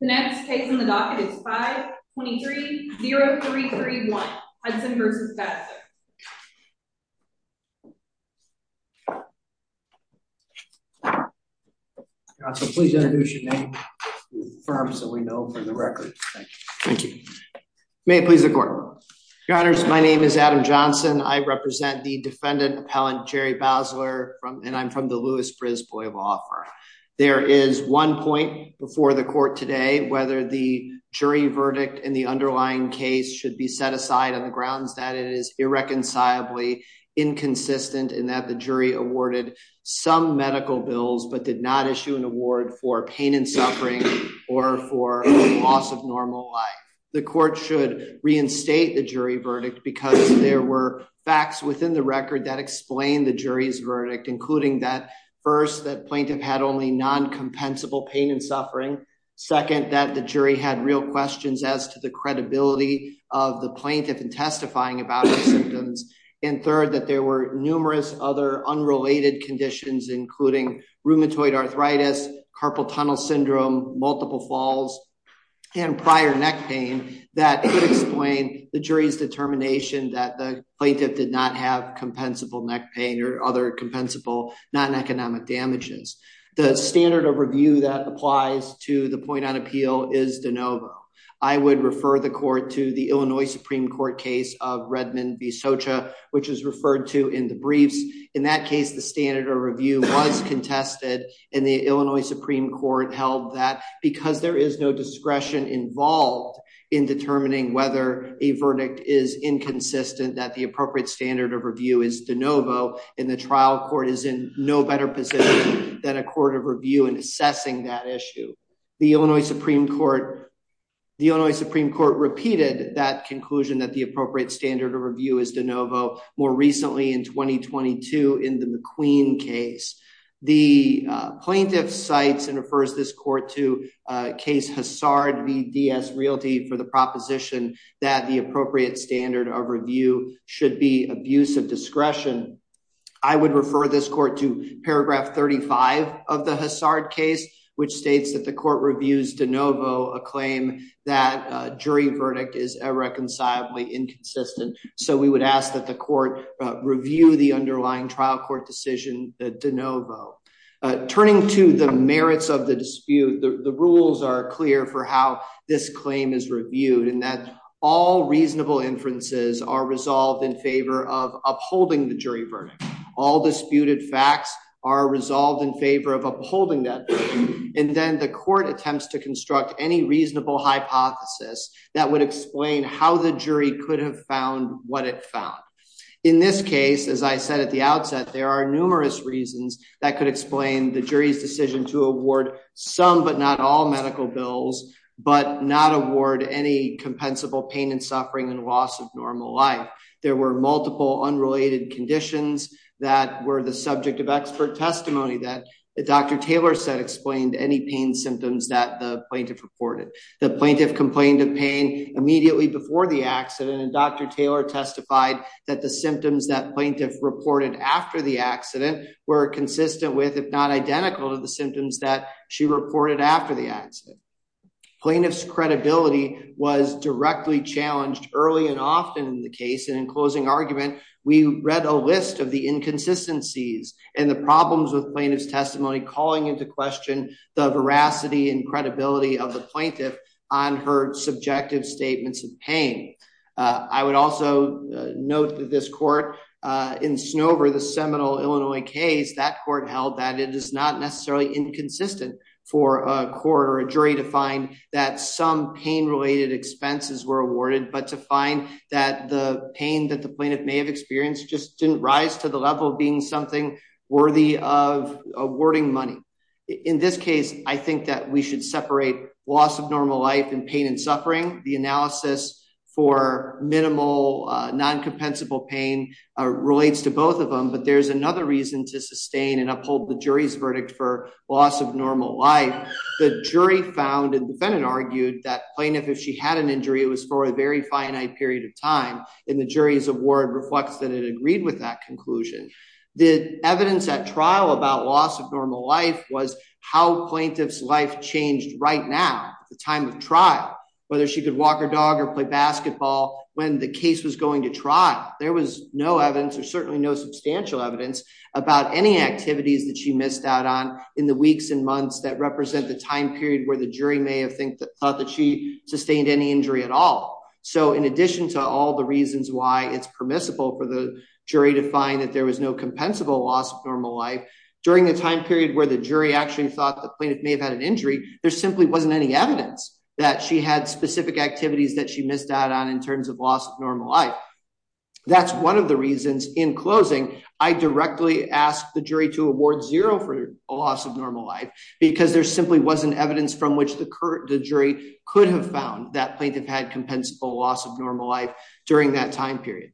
The next case in the docket is 523-0331 Hudson v. Basler. Please introduce your name to the firms that we know from the record. Thank you. May it please the court. Your honors, my name is Adam Johnson. I represent the defendant appellant Jerry Basler and I'm from the Lewis-Brisbois law firm. There is one point before the court today whether the jury verdict in the underlying case should be set aside on the grounds that it is irreconcilably inconsistent and that the jury awarded some medical bills but did not issue an award for pain and suffering or for loss of normal life. The court should reinstate the jury verdict because there were facts within the record that explain the jury's verdict including that first that plaintiff had only non-compensable pain and suffering, second that the jury had real questions as to the credibility of the plaintiff in testifying about the symptoms, and third that there were numerous other unrelated conditions including rheumatoid arthritis, carpal tunnel that the plaintiff did not have compensable neck pain or other compensable non-economic damages. The standard of review that applies to the point on appeal is de novo. I would refer the court to the Illinois Supreme Court case of Redmond v. Socha which is referred to in the briefs. In that case the standard of review was contested and the Illinois Supreme Court held that because there is no discretion involved in determining whether a verdict is inconsistent that the appropriate standard of review is de novo and the trial court is in no better position than a court of review in assessing that issue. The Illinois Supreme Court repeated that conclusion that the appropriate standard of review is de novo more recently in 2022 in the McQueen case. The plaintiff cites and refers this court to case Hassard v. D.S. Realty for the proposition that the appropriate standard of review should be abuse of discretion. I would refer this court to paragraph 35 of the Hassard case which states that the court reviews de novo a claim that a jury verdict is irreconcilably inconsistent so we would ask that the court review the underlying trial court decision de novo. Turning to the merits of the dispute the rules are clear for how this claim is reviewed and that all reasonable inferences are resolved in favor of upholding the jury verdict. All disputed facts are resolved in favor of upholding that and then the court attempts to construct any reasonable hypothesis that would explain how the jury could have found what it found. In this case as I said the outset there are numerous reasons that could explain the jury's decision to award some but not all medical bills but not award any compensable pain and suffering and loss of normal life. There were multiple unrelated conditions that were the subject of expert testimony that Dr. Taylor said explained any pain symptoms that the plaintiff reported. The plaintiff complained of pain immediately before the accident and Dr. Taylor testified that the symptoms that plaintiff reported after the accident were consistent with if not identical to the symptoms that she reported after the accident. Plaintiff's credibility was directly challenged early and often in the case and in closing argument we read a list of the inconsistencies and the problems with plaintiff's testimony calling into question the veracity and credibility of the plaintiff on her seminal Illinois case that court held that it is not necessarily inconsistent for a court or a jury to find that some pain related expenses were awarded but to find that the pain that the plaintiff may have experienced just didn't rise to the level of being something worthy of awarding money. In this case I think that we should separate loss of normal life and pain and suffering. The there's another reason to sustain and uphold the jury's verdict for loss of normal life. The jury found and defendant argued that plaintiff if she had an injury it was for a very finite period of time and the jury's award reflects that it agreed with that conclusion. The evidence at trial about loss of normal life was how plaintiff's life changed right now at the time of trial whether she could walk her dog or play basketball when the case was going to trial. There was no evidence or no substantial evidence about any activities that she missed out on in the weeks and months that represent the time period where the jury may have thought that she sustained any injury at all. So in addition to all the reasons why it's permissible for the jury to find that there was no compensable loss of normal life during the time period where the jury actually thought the plaintiff may have had an injury there simply wasn't any evidence that she had specific activities that she missed out on in terms of loss of normal life. That's one of the reasons in closing I directly ask the jury to award zero for a loss of normal life because there simply wasn't evidence from which the current the jury could have found that plaintiff had compensable loss of normal life during that time period.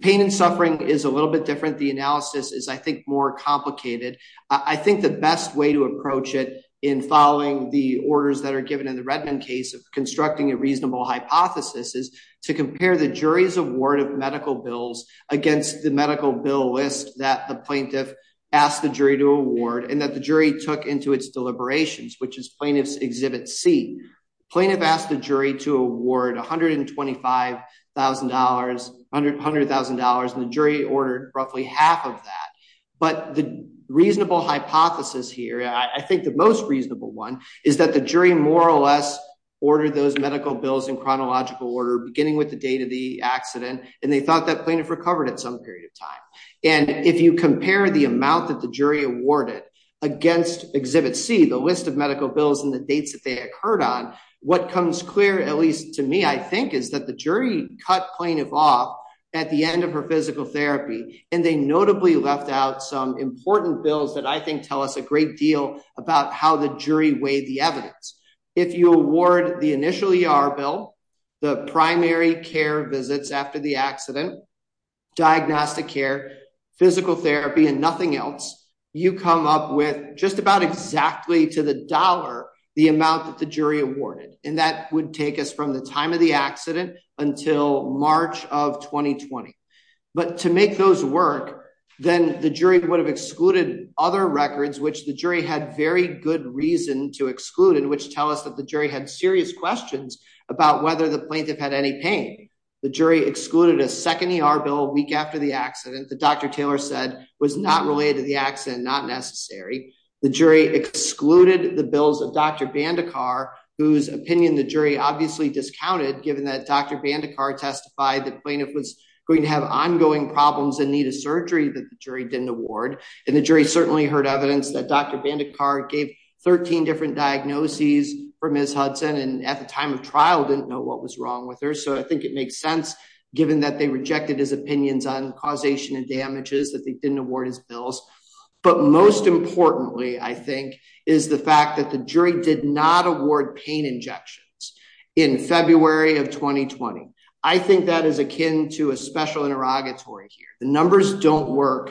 Pain and suffering is a little bit different. The analysis is I think more complicated. I think the best way to approach it in following the orders that are given in the Redmond case of constructing a reasonable hypothesis is to compare the jury's award of medical bills against the medical bill list that the plaintiff asked the jury to award and that the jury took into its deliberations which is plaintiff's exhibit C. Plaintiff asked the jury to award $125,000, $100,000 and the jury ordered roughly half of that. But the reasonable hypothesis here I think the most reasonable one is that the jury more or less ordered those medical bills in chronological order beginning with the date of the accident and they thought that plaintiff recovered at some period of time. And if you compare the amount that the jury awarded against exhibit C the list of medical bills and the dates that they occurred on what comes clear at least to me I think is that the jury cut plaintiff off at the end of her physical therapy and they notably left out some important bills that I think tell us a great deal about how the jury weighed the evidence. If you award the initial ER bill, the primary care visits after the accident, diagnostic care, physical therapy and nothing else you come up with just about exactly to the dollar the amount that the jury awarded and that would take us from the time of the accident until March of 2020. But to make those work then the jury would have excluded other records which the jury had very good reason to exclude in which tell us that the jury had serious questions about whether the plaintiff had any pain. The jury excluded a second ER bill week after the accident that Dr. Taylor said was not related to the accident not necessary. The jury excluded the Bandicart testified that plaintiff was going to have ongoing problems and need a surgery that the jury didn't award and the jury certainly heard evidence that Dr. Bandicart gave 13 different diagnoses for Ms. Hudson and at the time of trial didn't know what was wrong with her so I think it makes sense given that they rejected his opinions on causation and damages that they didn't award his bills. But most importantly I think is the fact that the jury did not award pain injections in February of 2020. I think that is akin to a special interrogatory here the numbers don't work.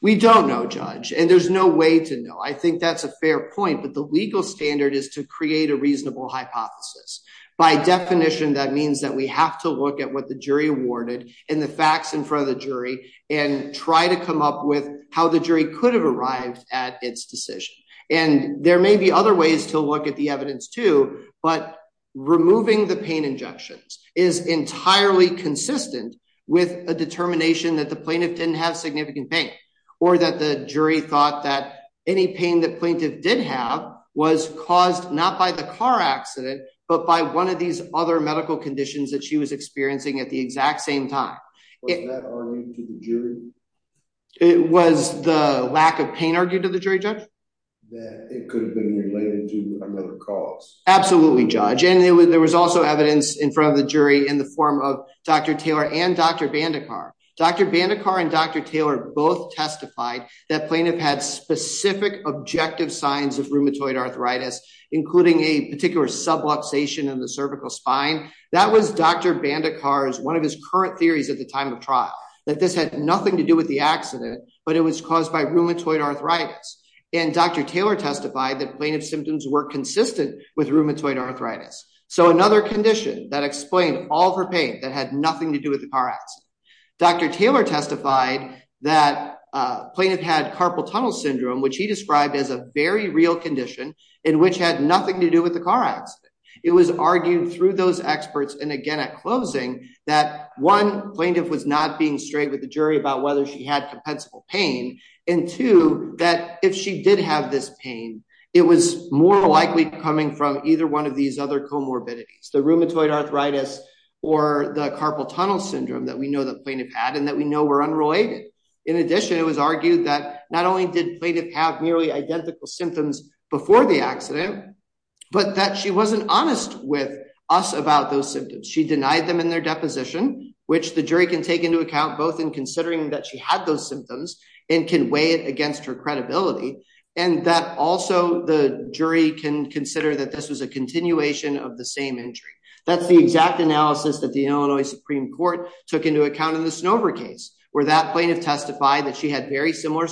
We don't know judge and there's no way to know I think that's a fair point but the legal standard is to create a reasonable hypothesis by definition that means that we have to look at what the jury awarded and the facts in front of the jury and try to come up with how the jury could have arrived at its decision and there may be other ways to look at the evidence too but removing the pain injections is entirely consistent with a determination that the plaintiff didn't have significant pain or that the jury thought that any pain that plaintiff did have was caused not by the car accident but by one of these other medical conditions that she was experiencing at the exact same time. It was the lack of pain argued to the jury judge that it could have been related to another cause. Absolutely judge and there was also evidence in front of the jury in the form of Dr. Taylor and Dr. Bandekar. Dr. Bandekar and Dr. Taylor both testified that plaintiff had specific objective signs of rheumatoid arthritis including a particular subluxation in the cervical spine that was Dr. Bandekar's one of his current theories at the time of trial that this had nothing to do with the accident but it was caused by rheumatoid arthritis and Dr. Taylor testified that plaintiff symptoms were consistent with rheumatoid arthritis so another condition that explained all her pain that had nothing to do with the car accident. Dr. Taylor testified that plaintiff had carpal tunnel syndrome which he described as a very real condition in which had nothing to do with the car accident. It was argued through those experts and again at closing that one plaintiff was not being straight with the jury about whether she had compensable pain and two that if she did have this pain it was more likely coming from either one of these other comorbidities the rheumatoid arthritis or the carpal tunnel syndrome that we know that plaintiff had and that we know were unrelated. In addition it was argued that not only did plaintiff have nearly identical symptoms before the accident but that she wasn't honest with us about those symptoms. She denied them in their deposition which the jury can take into account both in considering that she had those symptoms and can weigh it against her credibility and that also the jury can consider that this was a continuation of the same injury. That's the exact analysis that the Illinois Supreme Court took into account in the Snover case where that plaintiff testified that she had very similar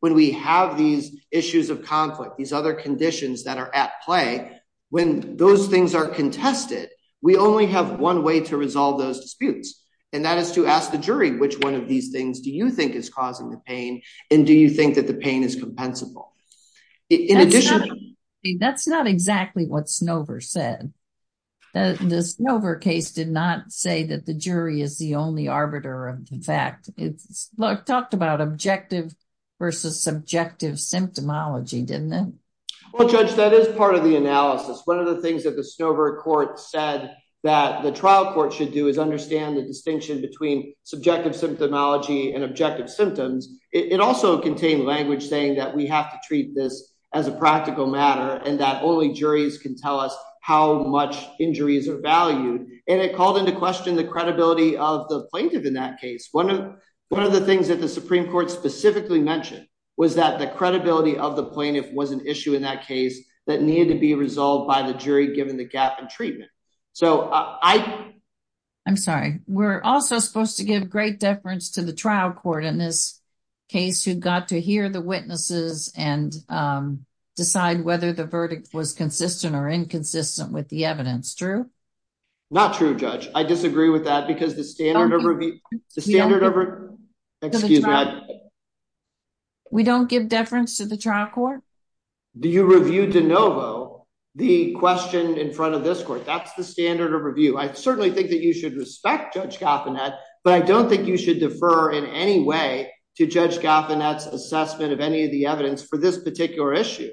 when we have these issues of conflict these other conditions that are at play when those things are contested we only have one way to resolve those disputes and that is to ask the jury which one of these things do you think is causing the pain and do you think that the pain is compensable. In addition that's not exactly what Snover said. The Snover case did not say that jury is the only arbiter of the fact. It talked about objective versus subjective symptomology didn't it? Well judge that is part of the analysis. One of the things that the Snover court said that the trial court should do is understand the distinction between subjective symptomology and objective symptoms. It also contained language saying that we have to treat this as a practical matter and that only juries can tell us how much injuries are valued and it questioned the credibility of the plaintiff in that case. One of the things that the Supreme Court specifically mentioned was that the credibility of the plaintiff was an issue in that case that needed to be resolved by the jury given the gap in treatment. I'm sorry we're also supposed to give great deference to the trial court in this case who got to hear the witnesses and decide whether the verdict was consistent or inconsistent with the evidence true? Not true judge I disagree with that because the standard of review the standard of excuse me we don't give deference to the trial court. Do you review de novo the question in front of this court? That's the standard of review. I certainly think that you should respect Judge Gaffanet but I don't think you should defer in any way to Judge Gaffanet's assessment of any of the evidence for this particular issue.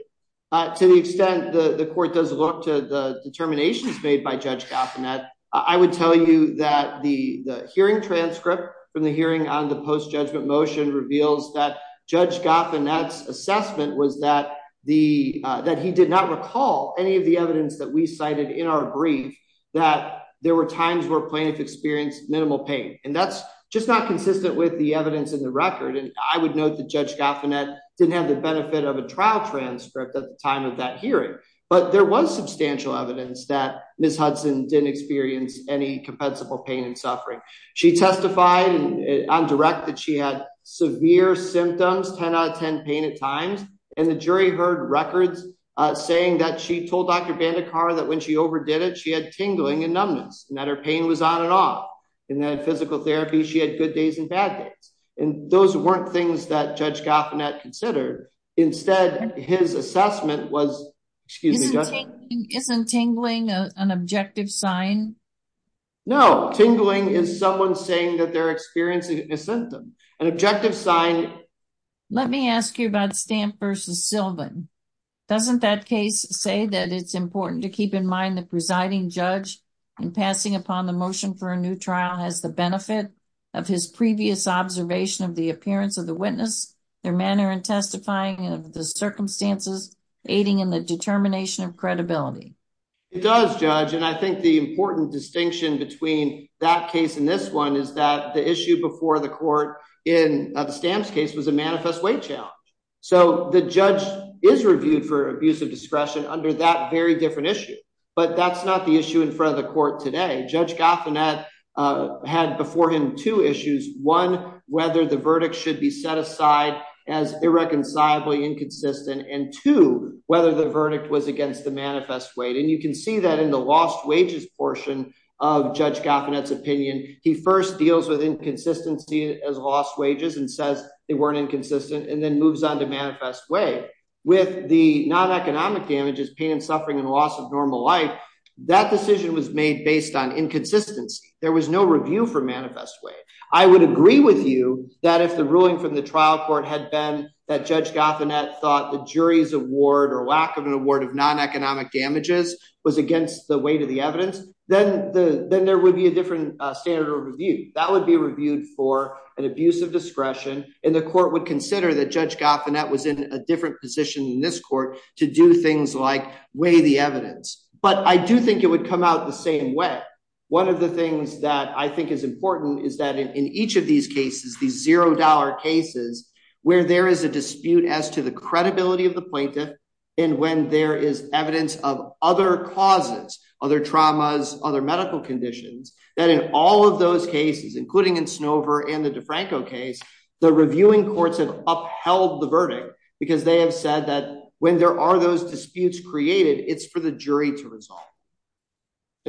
To the extent the the court does look to the determinations made by Judge Gaffanet I would tell you that the the hearing transcript from the hearing on the post-judgment motion reveals that Judge Gaffanet's assessment was that the that he did not recall any of the evidence that we cited in our brief that there were times where plaintiff experienced minimal pain and that's just not consistent with the evidence in the record and I would note that Judge Gaffanet didn't have the benefit of a trial transcript at the time of that hearing but there was substantial evidence that Ms. Hudson didn't experience any compensable pain and suffering. She testified on direct that she had severe symptoms 10 out of 10 pain at times and the jury heard records uh saying that she told Dr. Bandekar that when she overdid it she had tingling and numbness and that her pain was on and off and that physical therapy she had good days and bad days and those weren't things that Judge Gaffanet considered instead his assessment was excuse me isn't tingling an objective sign no tingling is someone saying that they're experiencing a symptom an objective sign let me ask you about Stamp versus Sylvan doesn't that case say that it's important to keep in mind the presiding judge in passing upon the motion for a new trial has the benefit of his previous observation of the appearance of the witness their manner and testifying of the circumstances aiding in the determination of credibility it does judge and I think the important distinction between that case and this one is that the issue before the court in the stamps case was a manifest weight challenge so the judge is reviewed for abuse of discretion under that very different issue but that's not the issue in front of the court today Judge Gaffanet had before him two issues one whether the verdict should be set aside as irreconcilably inconsistent and two whether the verdict was against the manifest weight and you can see that in the lost wages portion of Judge Gaffanet's opinion he first deals with inconsistency as lost wages and says they weren't inconsistent and then moves on to manifest way with the non-economic damages pain and suffering and loss of normal life that decision was made based on inconsistence there was no for manifest way I would agree with you that if the ruling from the trial court had been that Judge Gaffanet thought the jury's award or lack of an award of non-economic damages was against the weight of the evidence then the then there would be a different standard of review that would be reviewed for an abuse of discretion and the court would consider that Judge Gaffanet was in a different position in this court to do things like weigh the evidence but I do think it comes out the same way one of the things that I think is important is that in each of these cases these zero dollar cases where there is a dispute as to the credibility of the plaintiff and when there is evidence of other causes other traumas other medical conditions that in all of those cases including in Snover and the DeFranco case the reviewing courts have upheld the verdict because they have said that when there are those disputes created it's for the jury to resolve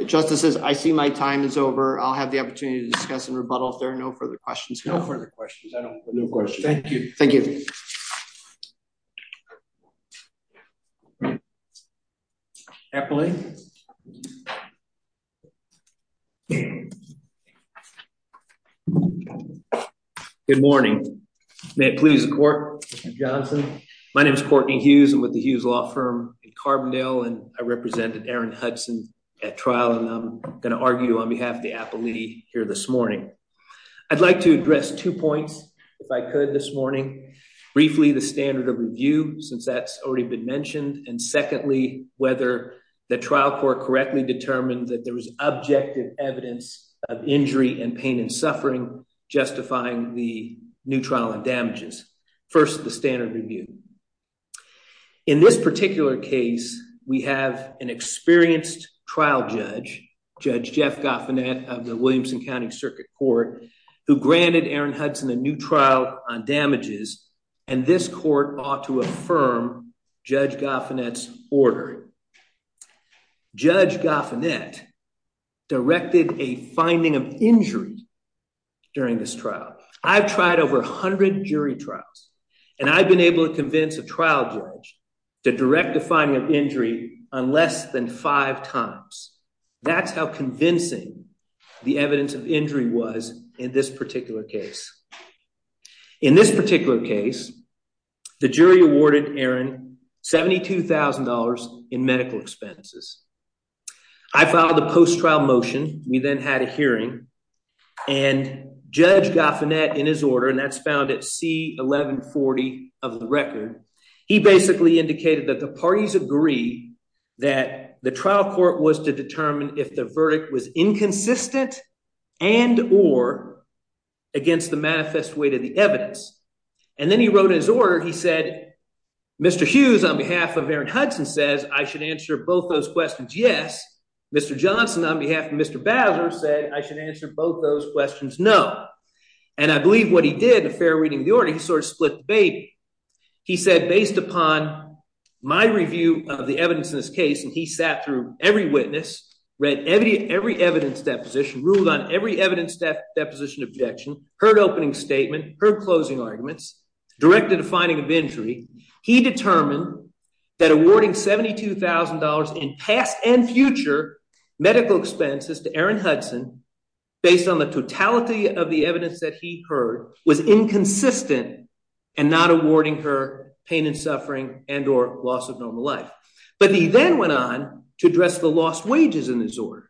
justices I see my time is over I'll have the opportunity to discuss and rebuttal if there are no further questions no further questions I don't have no questions thank you thank you happily good morning may it please the court Mr. Johnson my name is Courtney Hughes I'm with the Hughes law firm in Carbondale and I represented Aaron Hudson at trial and I'm going to argue on behalf of the appellee here this morning I'd like to address two points if I could this morning briefly the standard of review since that's already been mentioned and secondly whether the trial court correctly determined that there was objective evidence of injury and pain and in this particular case we have an experienced trial judge Judge Jeff Goffinette of the Williamson County Circuit Court who granted Aaron Hudson a new trial on damages and this court ought to affirm Judge Goffinette's ordering. Judge Goffinette directed a finding of injury during this trial I've tried over 100 jury trials and I've been able to convince a trial judge to direct the finding of injury on less than five times that's how convincing the evidence of injury was in this particular case in this particular case the jury awarded Aaron $72,000 in medical expenses I filed a post-trial motion we then had a hearing and Judge Goffinette in his order and that's found at C1140 of the record he basically indicated that the parties agree that the trial court was to determine if the verdict was inconsistent and or against the manifest weight of the evidence and then he wrote in his order he said Mr. Hughes on behalf of Aaron Hudson says I should answer both those questions yes Mr. Johnson on behalf of Mr. Bowser said I should answer both those questions no and I believe what he did a fair reading of the order he sort of split the baby he said based upon my review of the evidence in this case and he sat through every witness read every evidence deposition ruled on every evidence deposition objection heard opening statement heard closing arguments directed a finding of injury he determined that awarding $72,000 in past and future medical expenses to Aaron Hudson based on the totality of the evidence that he heard was inconsistent and not awarding her pain and suffering and or loss of normal life but he then went on to address the lost wages in this order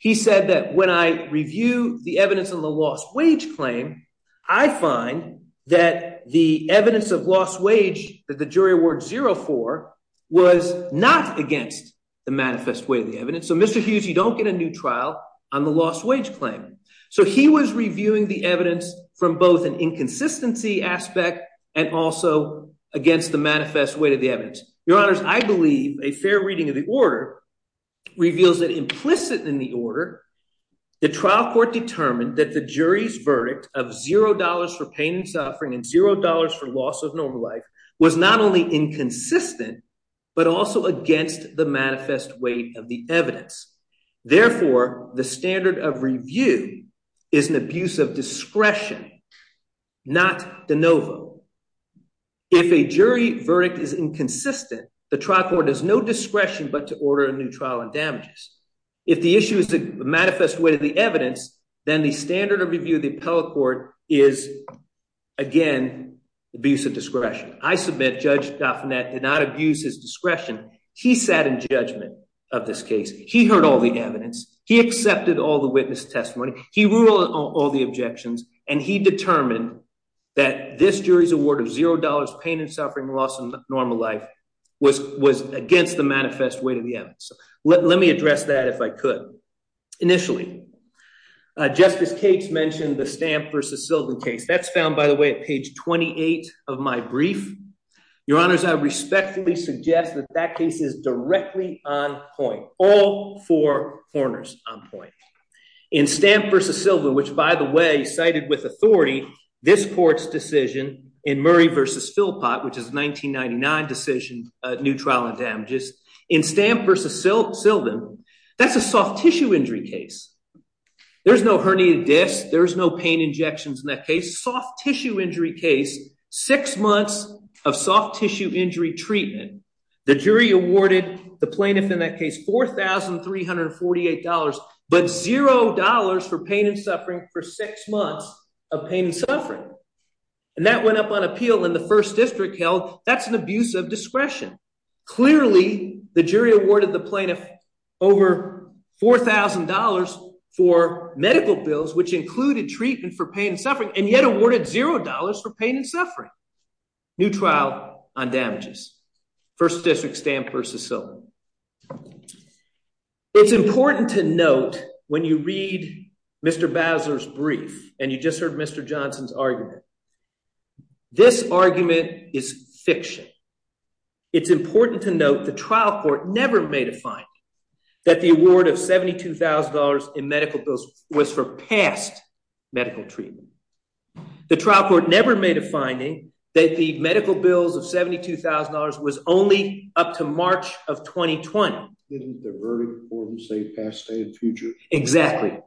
he said that when I review the evidence on the lost wage claim I find that the evidence of lost wage that the jury award zero for was not against the manifest way of the evidence so Mr. Hughes you don't get a new trial on the lost wage claim so he was reviewing the evidence from both an inconsistency aspect and also against the manifest weight of the evidence your honors I believe a fair reading of the order reveals that implicit in the order the trial court determined that the jury's verdict of zero dollars for pain and suffering and zero dollars for loss of normal life was not only inconsistent but also against the manifest weight of the evidence therefore the standard of review is an abuse of discretion not de novo if a jury verdict is inconsistent the trial court has no discretion but to order a new trial and damages if the issue is the manifest weight of the evidence then the standard of review of the appellate court is again abuse of discretion I submit Judge Dauphinette did not abuse his discretion he sat in judgment of this case he heard all the evidence he accepted all the witness testimony he ruled all the objections and he determined that this jury's award of zero dollars pain and suffering loss in normal life was was against the manifest weight of the evidence so let me address that if I could initially uh Justice Cates mentioned the Stamp versus Sylvan case that's found by the way at page 28 of my brief your honors I respectfully suggest that that case is directly on point all four corners on point in Stamp versus Sylvan which by the way cited with authority this court's decision in Murray versus Philpott which is 1999 decision uh new trial and damages in Stamp versus Sylvan that's a soft tissue injury case there's no herniated disc there's no pain injections in that case soft tissue injury case six months of soft tissue injury treatment the jury awarded the plaintiff in that case four thousand three hundred forty eight dollars but zero dollars for pain and suffering for six months of pain and suffering and that went up on appeal in the first district held that's an abuse of discretion clearly the jury awarded the plaintiff over four thousand dollars for medical bills which included treatment for pain and suffering and yet awarded zero dollars for pain and suffering new trial on damages first district versus Sylvan it's important to note when you read Mr. Bowser's brief and you just heard Mr. Johnson's argument this argument is fiction it's important to note the trial court never made a finding that the award of seventy two thousand dollars in medical bills was for past medical treatment the trial court never made a finding that the medical bills of seventy two thousand dollars was only up to March of 2020. Didn't the verdict form say past day and future? Exactly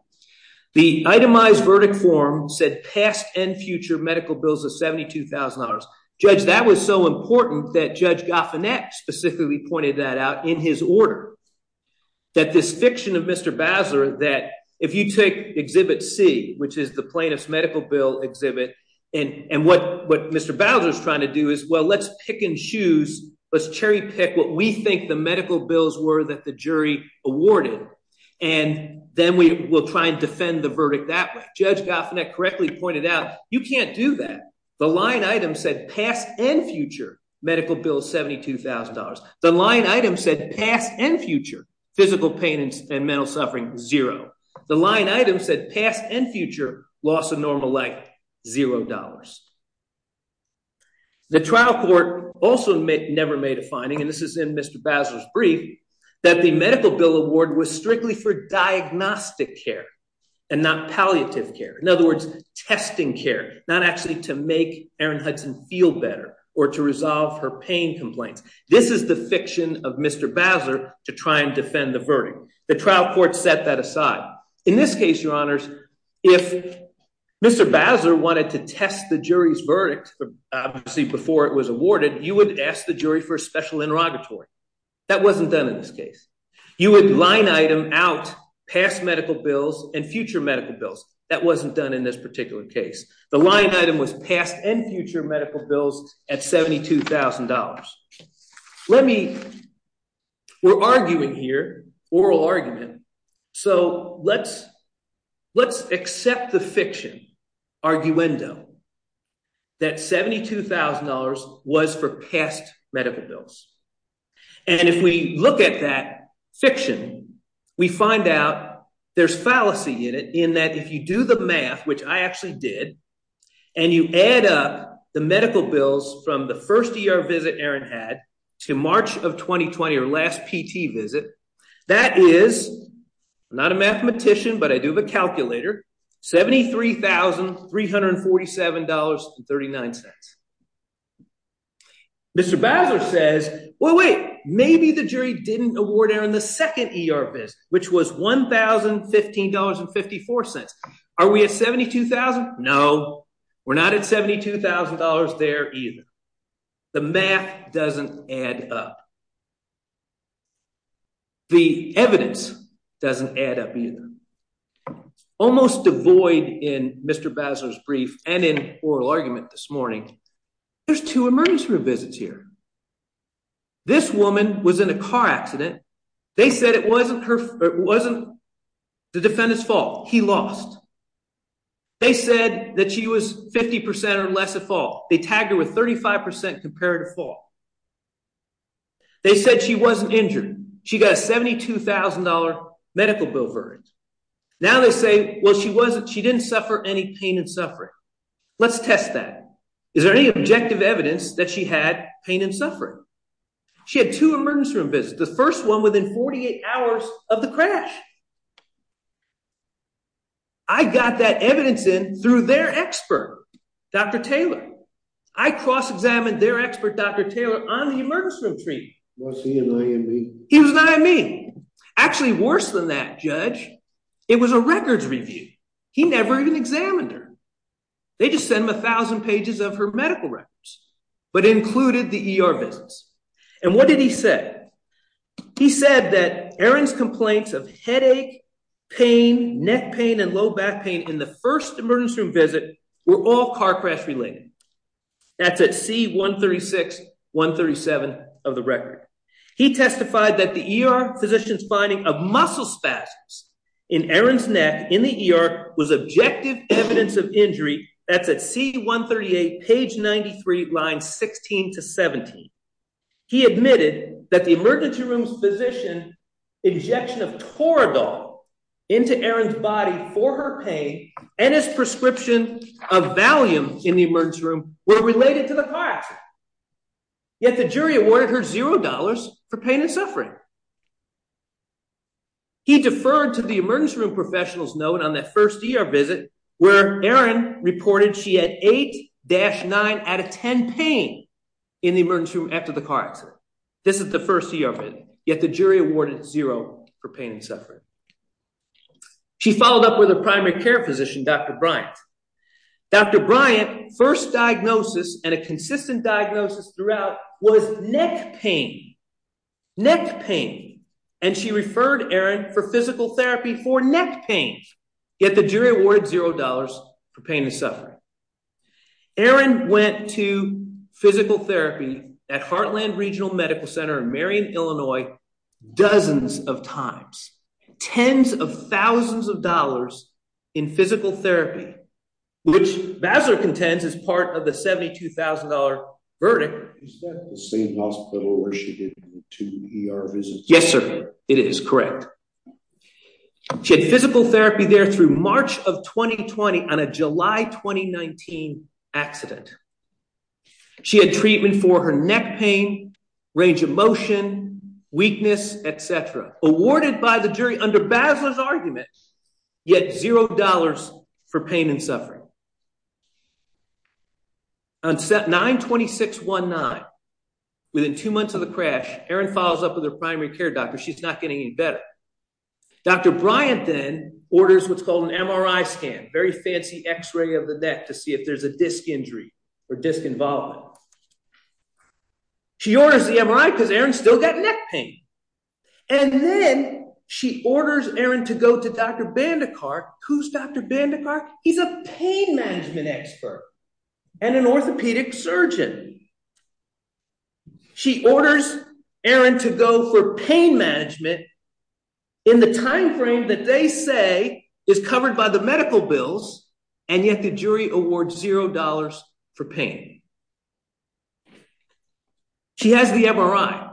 the itemized verdict form said past and future medical bills of seventy two thousand dollars judge that was so important that judge Goffinette specifically pointed that out in his order that this fiction of Mr. Bowser that if you take exhibit c which is the plaintiff's medical bill exhibit and and what what Mr. Bowser is trying to do is well let's pick in shoes let's cherry pick what we think the medical bills were that the jury awarded and then we will try and defend the verdict that way judge Goffinette correctly pointed out you can't do that the line item said past and future medical bills seventy two thousand dollars the line item said past and future physical pain and mental suffering zero the line item said past and future loss of normal life zero dollars the trial court also never made a finding and this is in Mr. Bowser's brief that the medical bill award was strictly for diagnostic care and not palliative care in other words testing care not actually to make Erin Hudson feel better or to resolve her pain this is the fiction of Mr. Bowser to try and defend the verdict the trial court set that aside in this case your honors if Mr. Bowser wanted to test the jury's verdict obviously before it was awarded you would ask the jury for a special interrogatory that wasn't done in this case you would line item out past medical bills and future medical bills that wasn't done in this let me we're arguing here oral argument so let's let's accept the fiction arguendo that seventy two thousand dollars was for past medical bills and if we look at that fiction we find out there's fallacy in it in that if you do the math which I actually did and you add up the medical bills from the first ER visit Erin had to March of 2020 or last PT visit that is not a mathematician but I do have a calculator seventy three thousand three hundred and forty seven dollars and thirty nine cents Mr. Bowser says well wait maybe the jury didn't award Erin the second ER visit which was one thousand fifteen dollars and fifty four cents are we at seventy two thousand no we're not at seventy two thousand dollars there either the math doesn't add up the evidence doesn't add up either almost devoid in Mr. Bowser's brief and in oral argument this this woman was in a car accident they said it wasn't her it wasn't the defendant's fault he lost they said that she was fifty percent or less a fall they tagged her with thirty five percent comparative fall they said she wasn't injured she got a seventy two thousand dollar medical bill verdict now they say well she wasn't she didn't suffer any pain and suffering let's test that is there any objective evidence that she had pain and suffering she had two emergency room visits the first one within 48 hours of the crash I got that evidence in through their expert Dr. Taylor I cross-examined their expert Dr. Taylor on the emergency room treatment he was not at me actually worse than that judge it was a records review he never even examined her they just sent him a thousand pages of her medical records but included the ER visits and what did he say he said that Erin's complaints of headache pain neck pain and low back pain in the first emergency room visit were all car crash related that's at C-136-137 of the record he testified that the ER physician's finding of muscle spasms in Erin's neck in the ER was objective evidence of injury that's at C-138 page 93 line 16 to 17 he admitted that the emergency room's physician injection of Toradol into Erin's body for her pain and his prescription of Valium in the emergency room were related to car accident yet the jury awarded her zero dollars for pain and suffering he deferred to the emergency room professionals note on that first ER visit where Erin reported she had 8-9 out of 10 pain in the emergency room after the car accident this is the first ER visit yet the jury awarded zero for pain and suffering she followed up with a primary care physician Dr. Bryant first diagnosis and a consistent diagnosis throughout was neck pain neck pain and she referred Erin for physical therapy for neck pain yet the jury awarded zero dollars for pain and suffering Erin went to physical therapy at Heartland Regional Medical Center in Marion Illinois dozens of times tens of thousands of dollars in physical therapy which Vassar contends is part of the $72,000 verdict is that the same hospital where she did the two ER visits yes sir it is correct she had physical therapy there through March of 2020 on a July 2019 accident she had treatment for her neck pain range of motion weakness etc awarded by the jury under Basler's argument yet zero dollars for pain and suffering on set 92619 within two months of the crash Erin follows up with her primary care doctor she's not getting any better Dr. Bryant then orders what's called an MRI scan very fancy x-ray of the neck see if there's a disc injury or disc involvement she orders the MRI because Erin still got neck pain and then she orders Erin to go to Dr. Bandekar who's Dr. Bandekar he's a pain management expert and an orthopedic surgeon she orders Erin to go for pain management in the time frame that they say is covered by the medical bills and yet the jury awards zero dollars for pain she has the MRI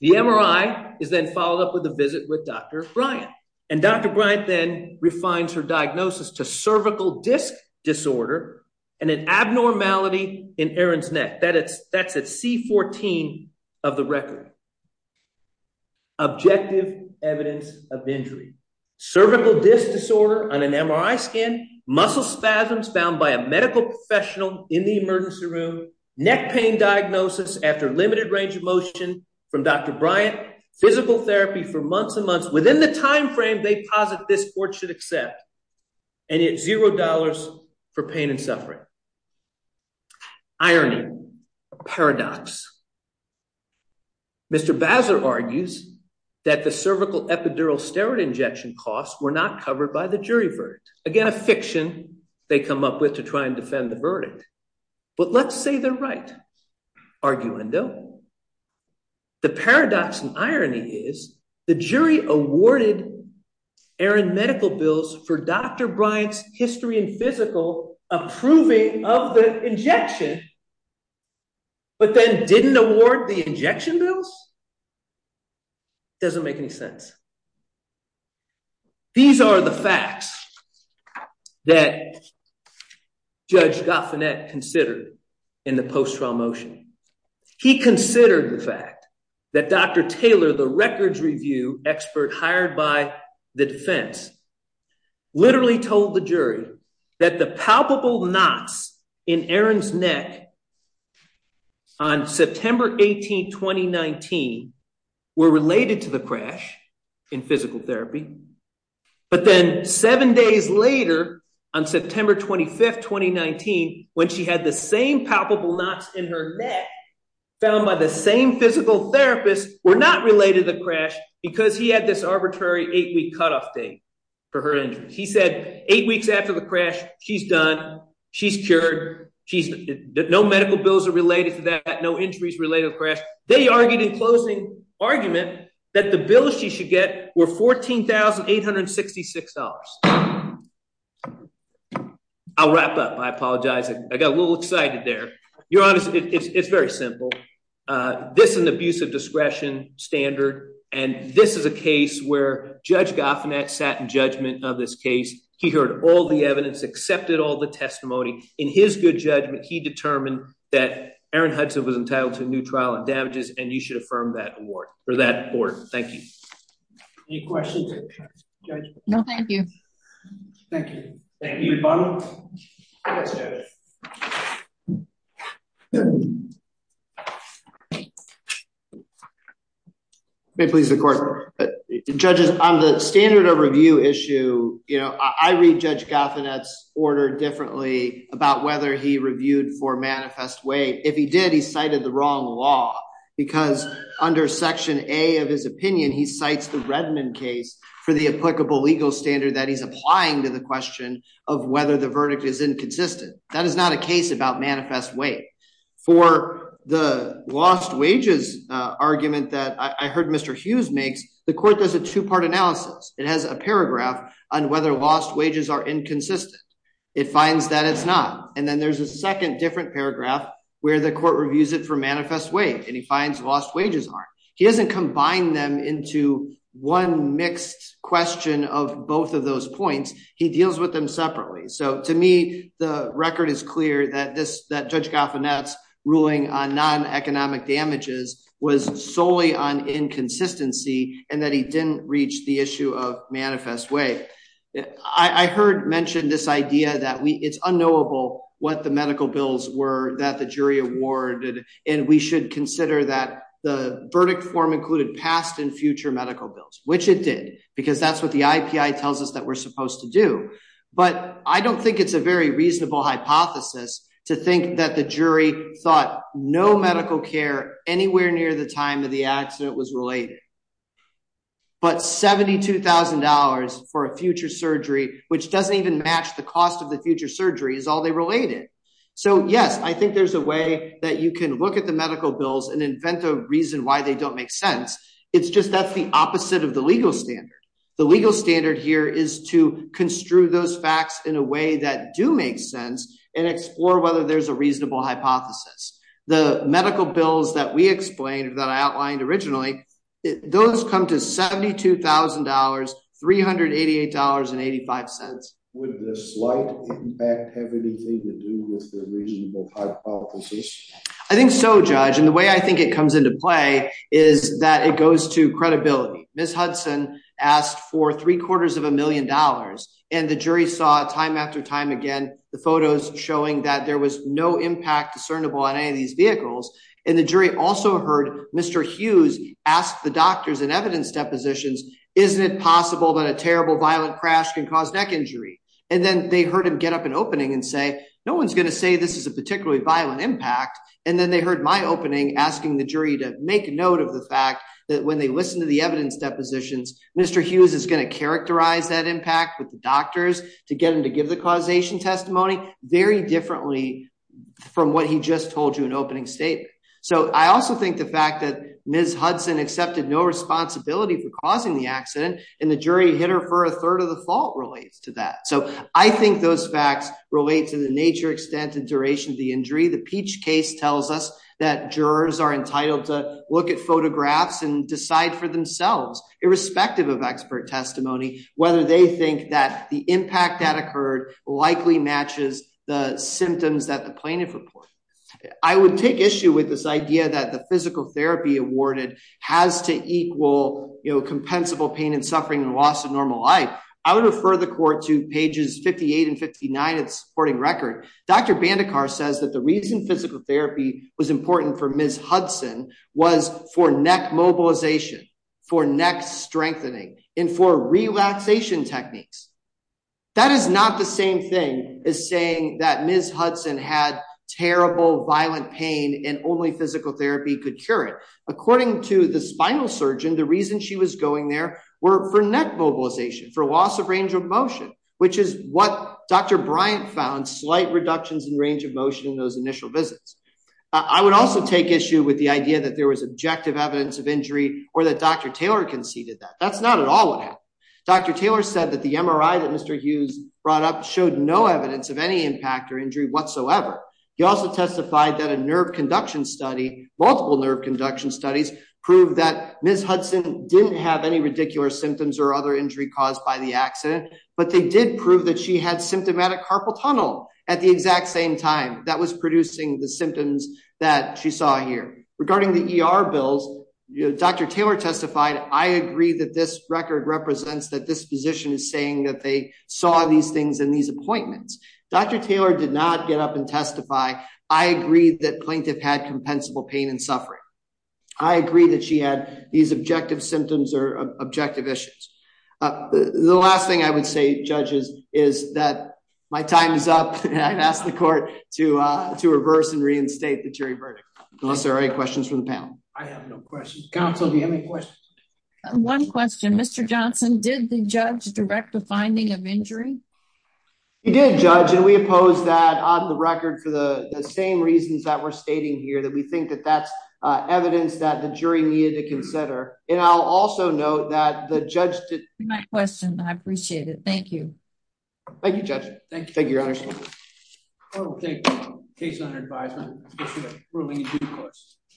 the MRI is then followed up with a visit with Dr. Bryant and Dr. Bryant then refines her diagnosis to cervical disc disorder and an abnormality in Erin's neck that it's at c14 of the record objective evidence of injury cervical disc disorder on an MRI scan muscle spasms found by a medical professional in the emergency room neck pain diagnosis after limited range of motion from Dr. Bryant physical therapy for months and months within the time paradox Mr. Bazar argues that the cervical epidural steroid injection costs were not covered by the jury verdict again a fiction they come up with to try and defend the verdict but let's say they're right arguendo the paradox and irony is the jury awarded Erin medical bills for Dr. Bryant's history and physical approving of the injection but then didn't award the injection bills doesn't make any sense these are the facts that Judge Goffinette considered in the post-trial motion he considered the fact that Dr. Taylor the records review expert hired by the defense literally told the jury that the palpable knots in Erin's neck on September 18, 2019 were related to the crash in physical therapy but then seven days later on September 25, 2019 when she had the same palpable knots in her neck found by the same physical therapist were not related to the crash because he had this arbitrary eight-week cutoff date for her injury he said eight weeks after the crash she's done she's cured she's no medical bills are related to that no injuries related crash they argued in closing argument that the bills she should get were fourteen thousand eight hundred sixty six dollars I'll wrap up I apologize I got a little excited there you're honest it's very simple uh this is an abuse of discretion standard and this is a case where Judge Goffinette sat in judgment of this case he heard all the evidence accepted all the testimony in his good judgment he determined that Erin Hudson was entitled to new trial and damages and you should affirm that award for that court thank you any questions judge no thank you thank you thank you may please the court judges on the standard of review issue you know I read Judge Goffinette's order differently about whether he reviewed for manifest way if he did he cited the wrong law because under section a of his opinion he cites the Redmond case for the applicable legal standard that he's applying to the question of whether the verdict is inconsistent that is not a case about manifest way for the lost wages argument that I heard Mr. Hughes makes the court does a two-part analysis it has a paragraph on whether lost wages are inconsistent it finds that it's not and then there's a second different paragraph where the court reviews it for lost wages are he doesn't combine them into one mixed question of both of those points he deals with them separately so to me the record is clear that this that Judge Goffinette's ruling on non-economic damages was solely on inconsistency and that he didn't reach the issue of manifest way I heard mentioned this idea that we it's unknowable what the medical bills were that jury awarded and we should consider that the verdict form included past and future medical bills which it did because that's what the IPI tells us that we're supposed to do but I don't think it's a very reasonable hypothesis to think that the jury thought no medical care anywhere near the time of the accident was related but seventy two thousand dollars for a future surgery which doesn't even match the cost of the future surgery is all they related so yes I think there's a way that you can look at the medical bills and invent a reason why they don't make sense it's just that's the opposite of the legal standard the legal standard here is to construe those facts in a way that do make sense and explore whether there's a reasonable hypothesis the medical bills that we explained that I outlined originally those come to seventy two thousand dollars three hundred eighty eight dollars and eighty five cents would the slight impact have anything to do with the reasonable hypothesis I think so judge and the way I think it comes into play is that it goes to credibility Ms. Hudson asked for three quarters of a million dollars and the jury saw time after time again the photos showing that there was no impact discernible on any of these vehicles and the jury also heard Mr. Hughes ask the doctors and evidence depositions isn't it possible that a terrible violent crash can cause neck injury and then they heard him get up an opening and say no one's going to say this is a particularly violent impact and then they heard my opening asking the jury to make note of the fact that when they listen to the evidence depositions Mr. Hughes is going to characterize that impact with the doctors to get him to give the causation testimony very differently from what he just told you an opening statement so I also think the fact that Ms. Hudson accepted no responsibility for I think those facts relate to the nature extent and duration of the injury the peach case tells us that jurors are entitled to look at photographs and decide for themselves irrespective of expert testimony whether they think that the impact that occurred likely matches the symptoms that the plaintiff reported I would take issue with this idea that the physical therapy awarded has to equal you know compensable pain and suffering and loss of normal life I would refer the court to pages 58 and 59 it's supporting record Dr. Bandekar says that the reason physical therapy was important for Ms. Hudson was for neck mobilization for neck strengthening and for relaxation techniques that is not the same thing as saying that Ms. Hudson had terrible violent pain and only physical therapy could cure it according to the spinal surgeon the reason she was going there were for neck mobilization for loss of range of motion which is what Dr. Bryant found slight reductions in range of motion in those initial visits I would also take issue with the idea that there was objective evidence of injury or that Dr. Taylor conceded that that's not at all what happened Dr. Taylor said that the MRI that Mr. Hughes brought up showed no evidence of any impact or injury whatsoever he also testified that a nerve conduction study multiple nerve induction studies proved that Ms. Hudson didn't have any ridiculous symptoms or other injury caused by the accident but they did prove that she had symptomatic carpal tunnel at the exact same time that was producing the symptoms that she saw here regarding the ER bills Dr. Taylor testified I agree that this record represents that this physician is saying that they saw these things in these appointments Dr. Taylor did not get up and testify I agreed that plaintiff had compensable pain and suffering I agree that she had these objective symptoms or objective issues the last thing I would say judges is that my time is up and I've asked the court to uh to reverse and reinstate the jury verdict unless there are any questions from the panel I have no questions counsel do you have any questions one question Mr. Johnson did the judge direct the finding of injury he did judge and we oppose that on the record for the the same reasons that we're stating here that we think that that's uh evidence that the jury needed to consider and I'll also note that the judge did my question I appreciate it thank you thank you judge thank you thank you your honor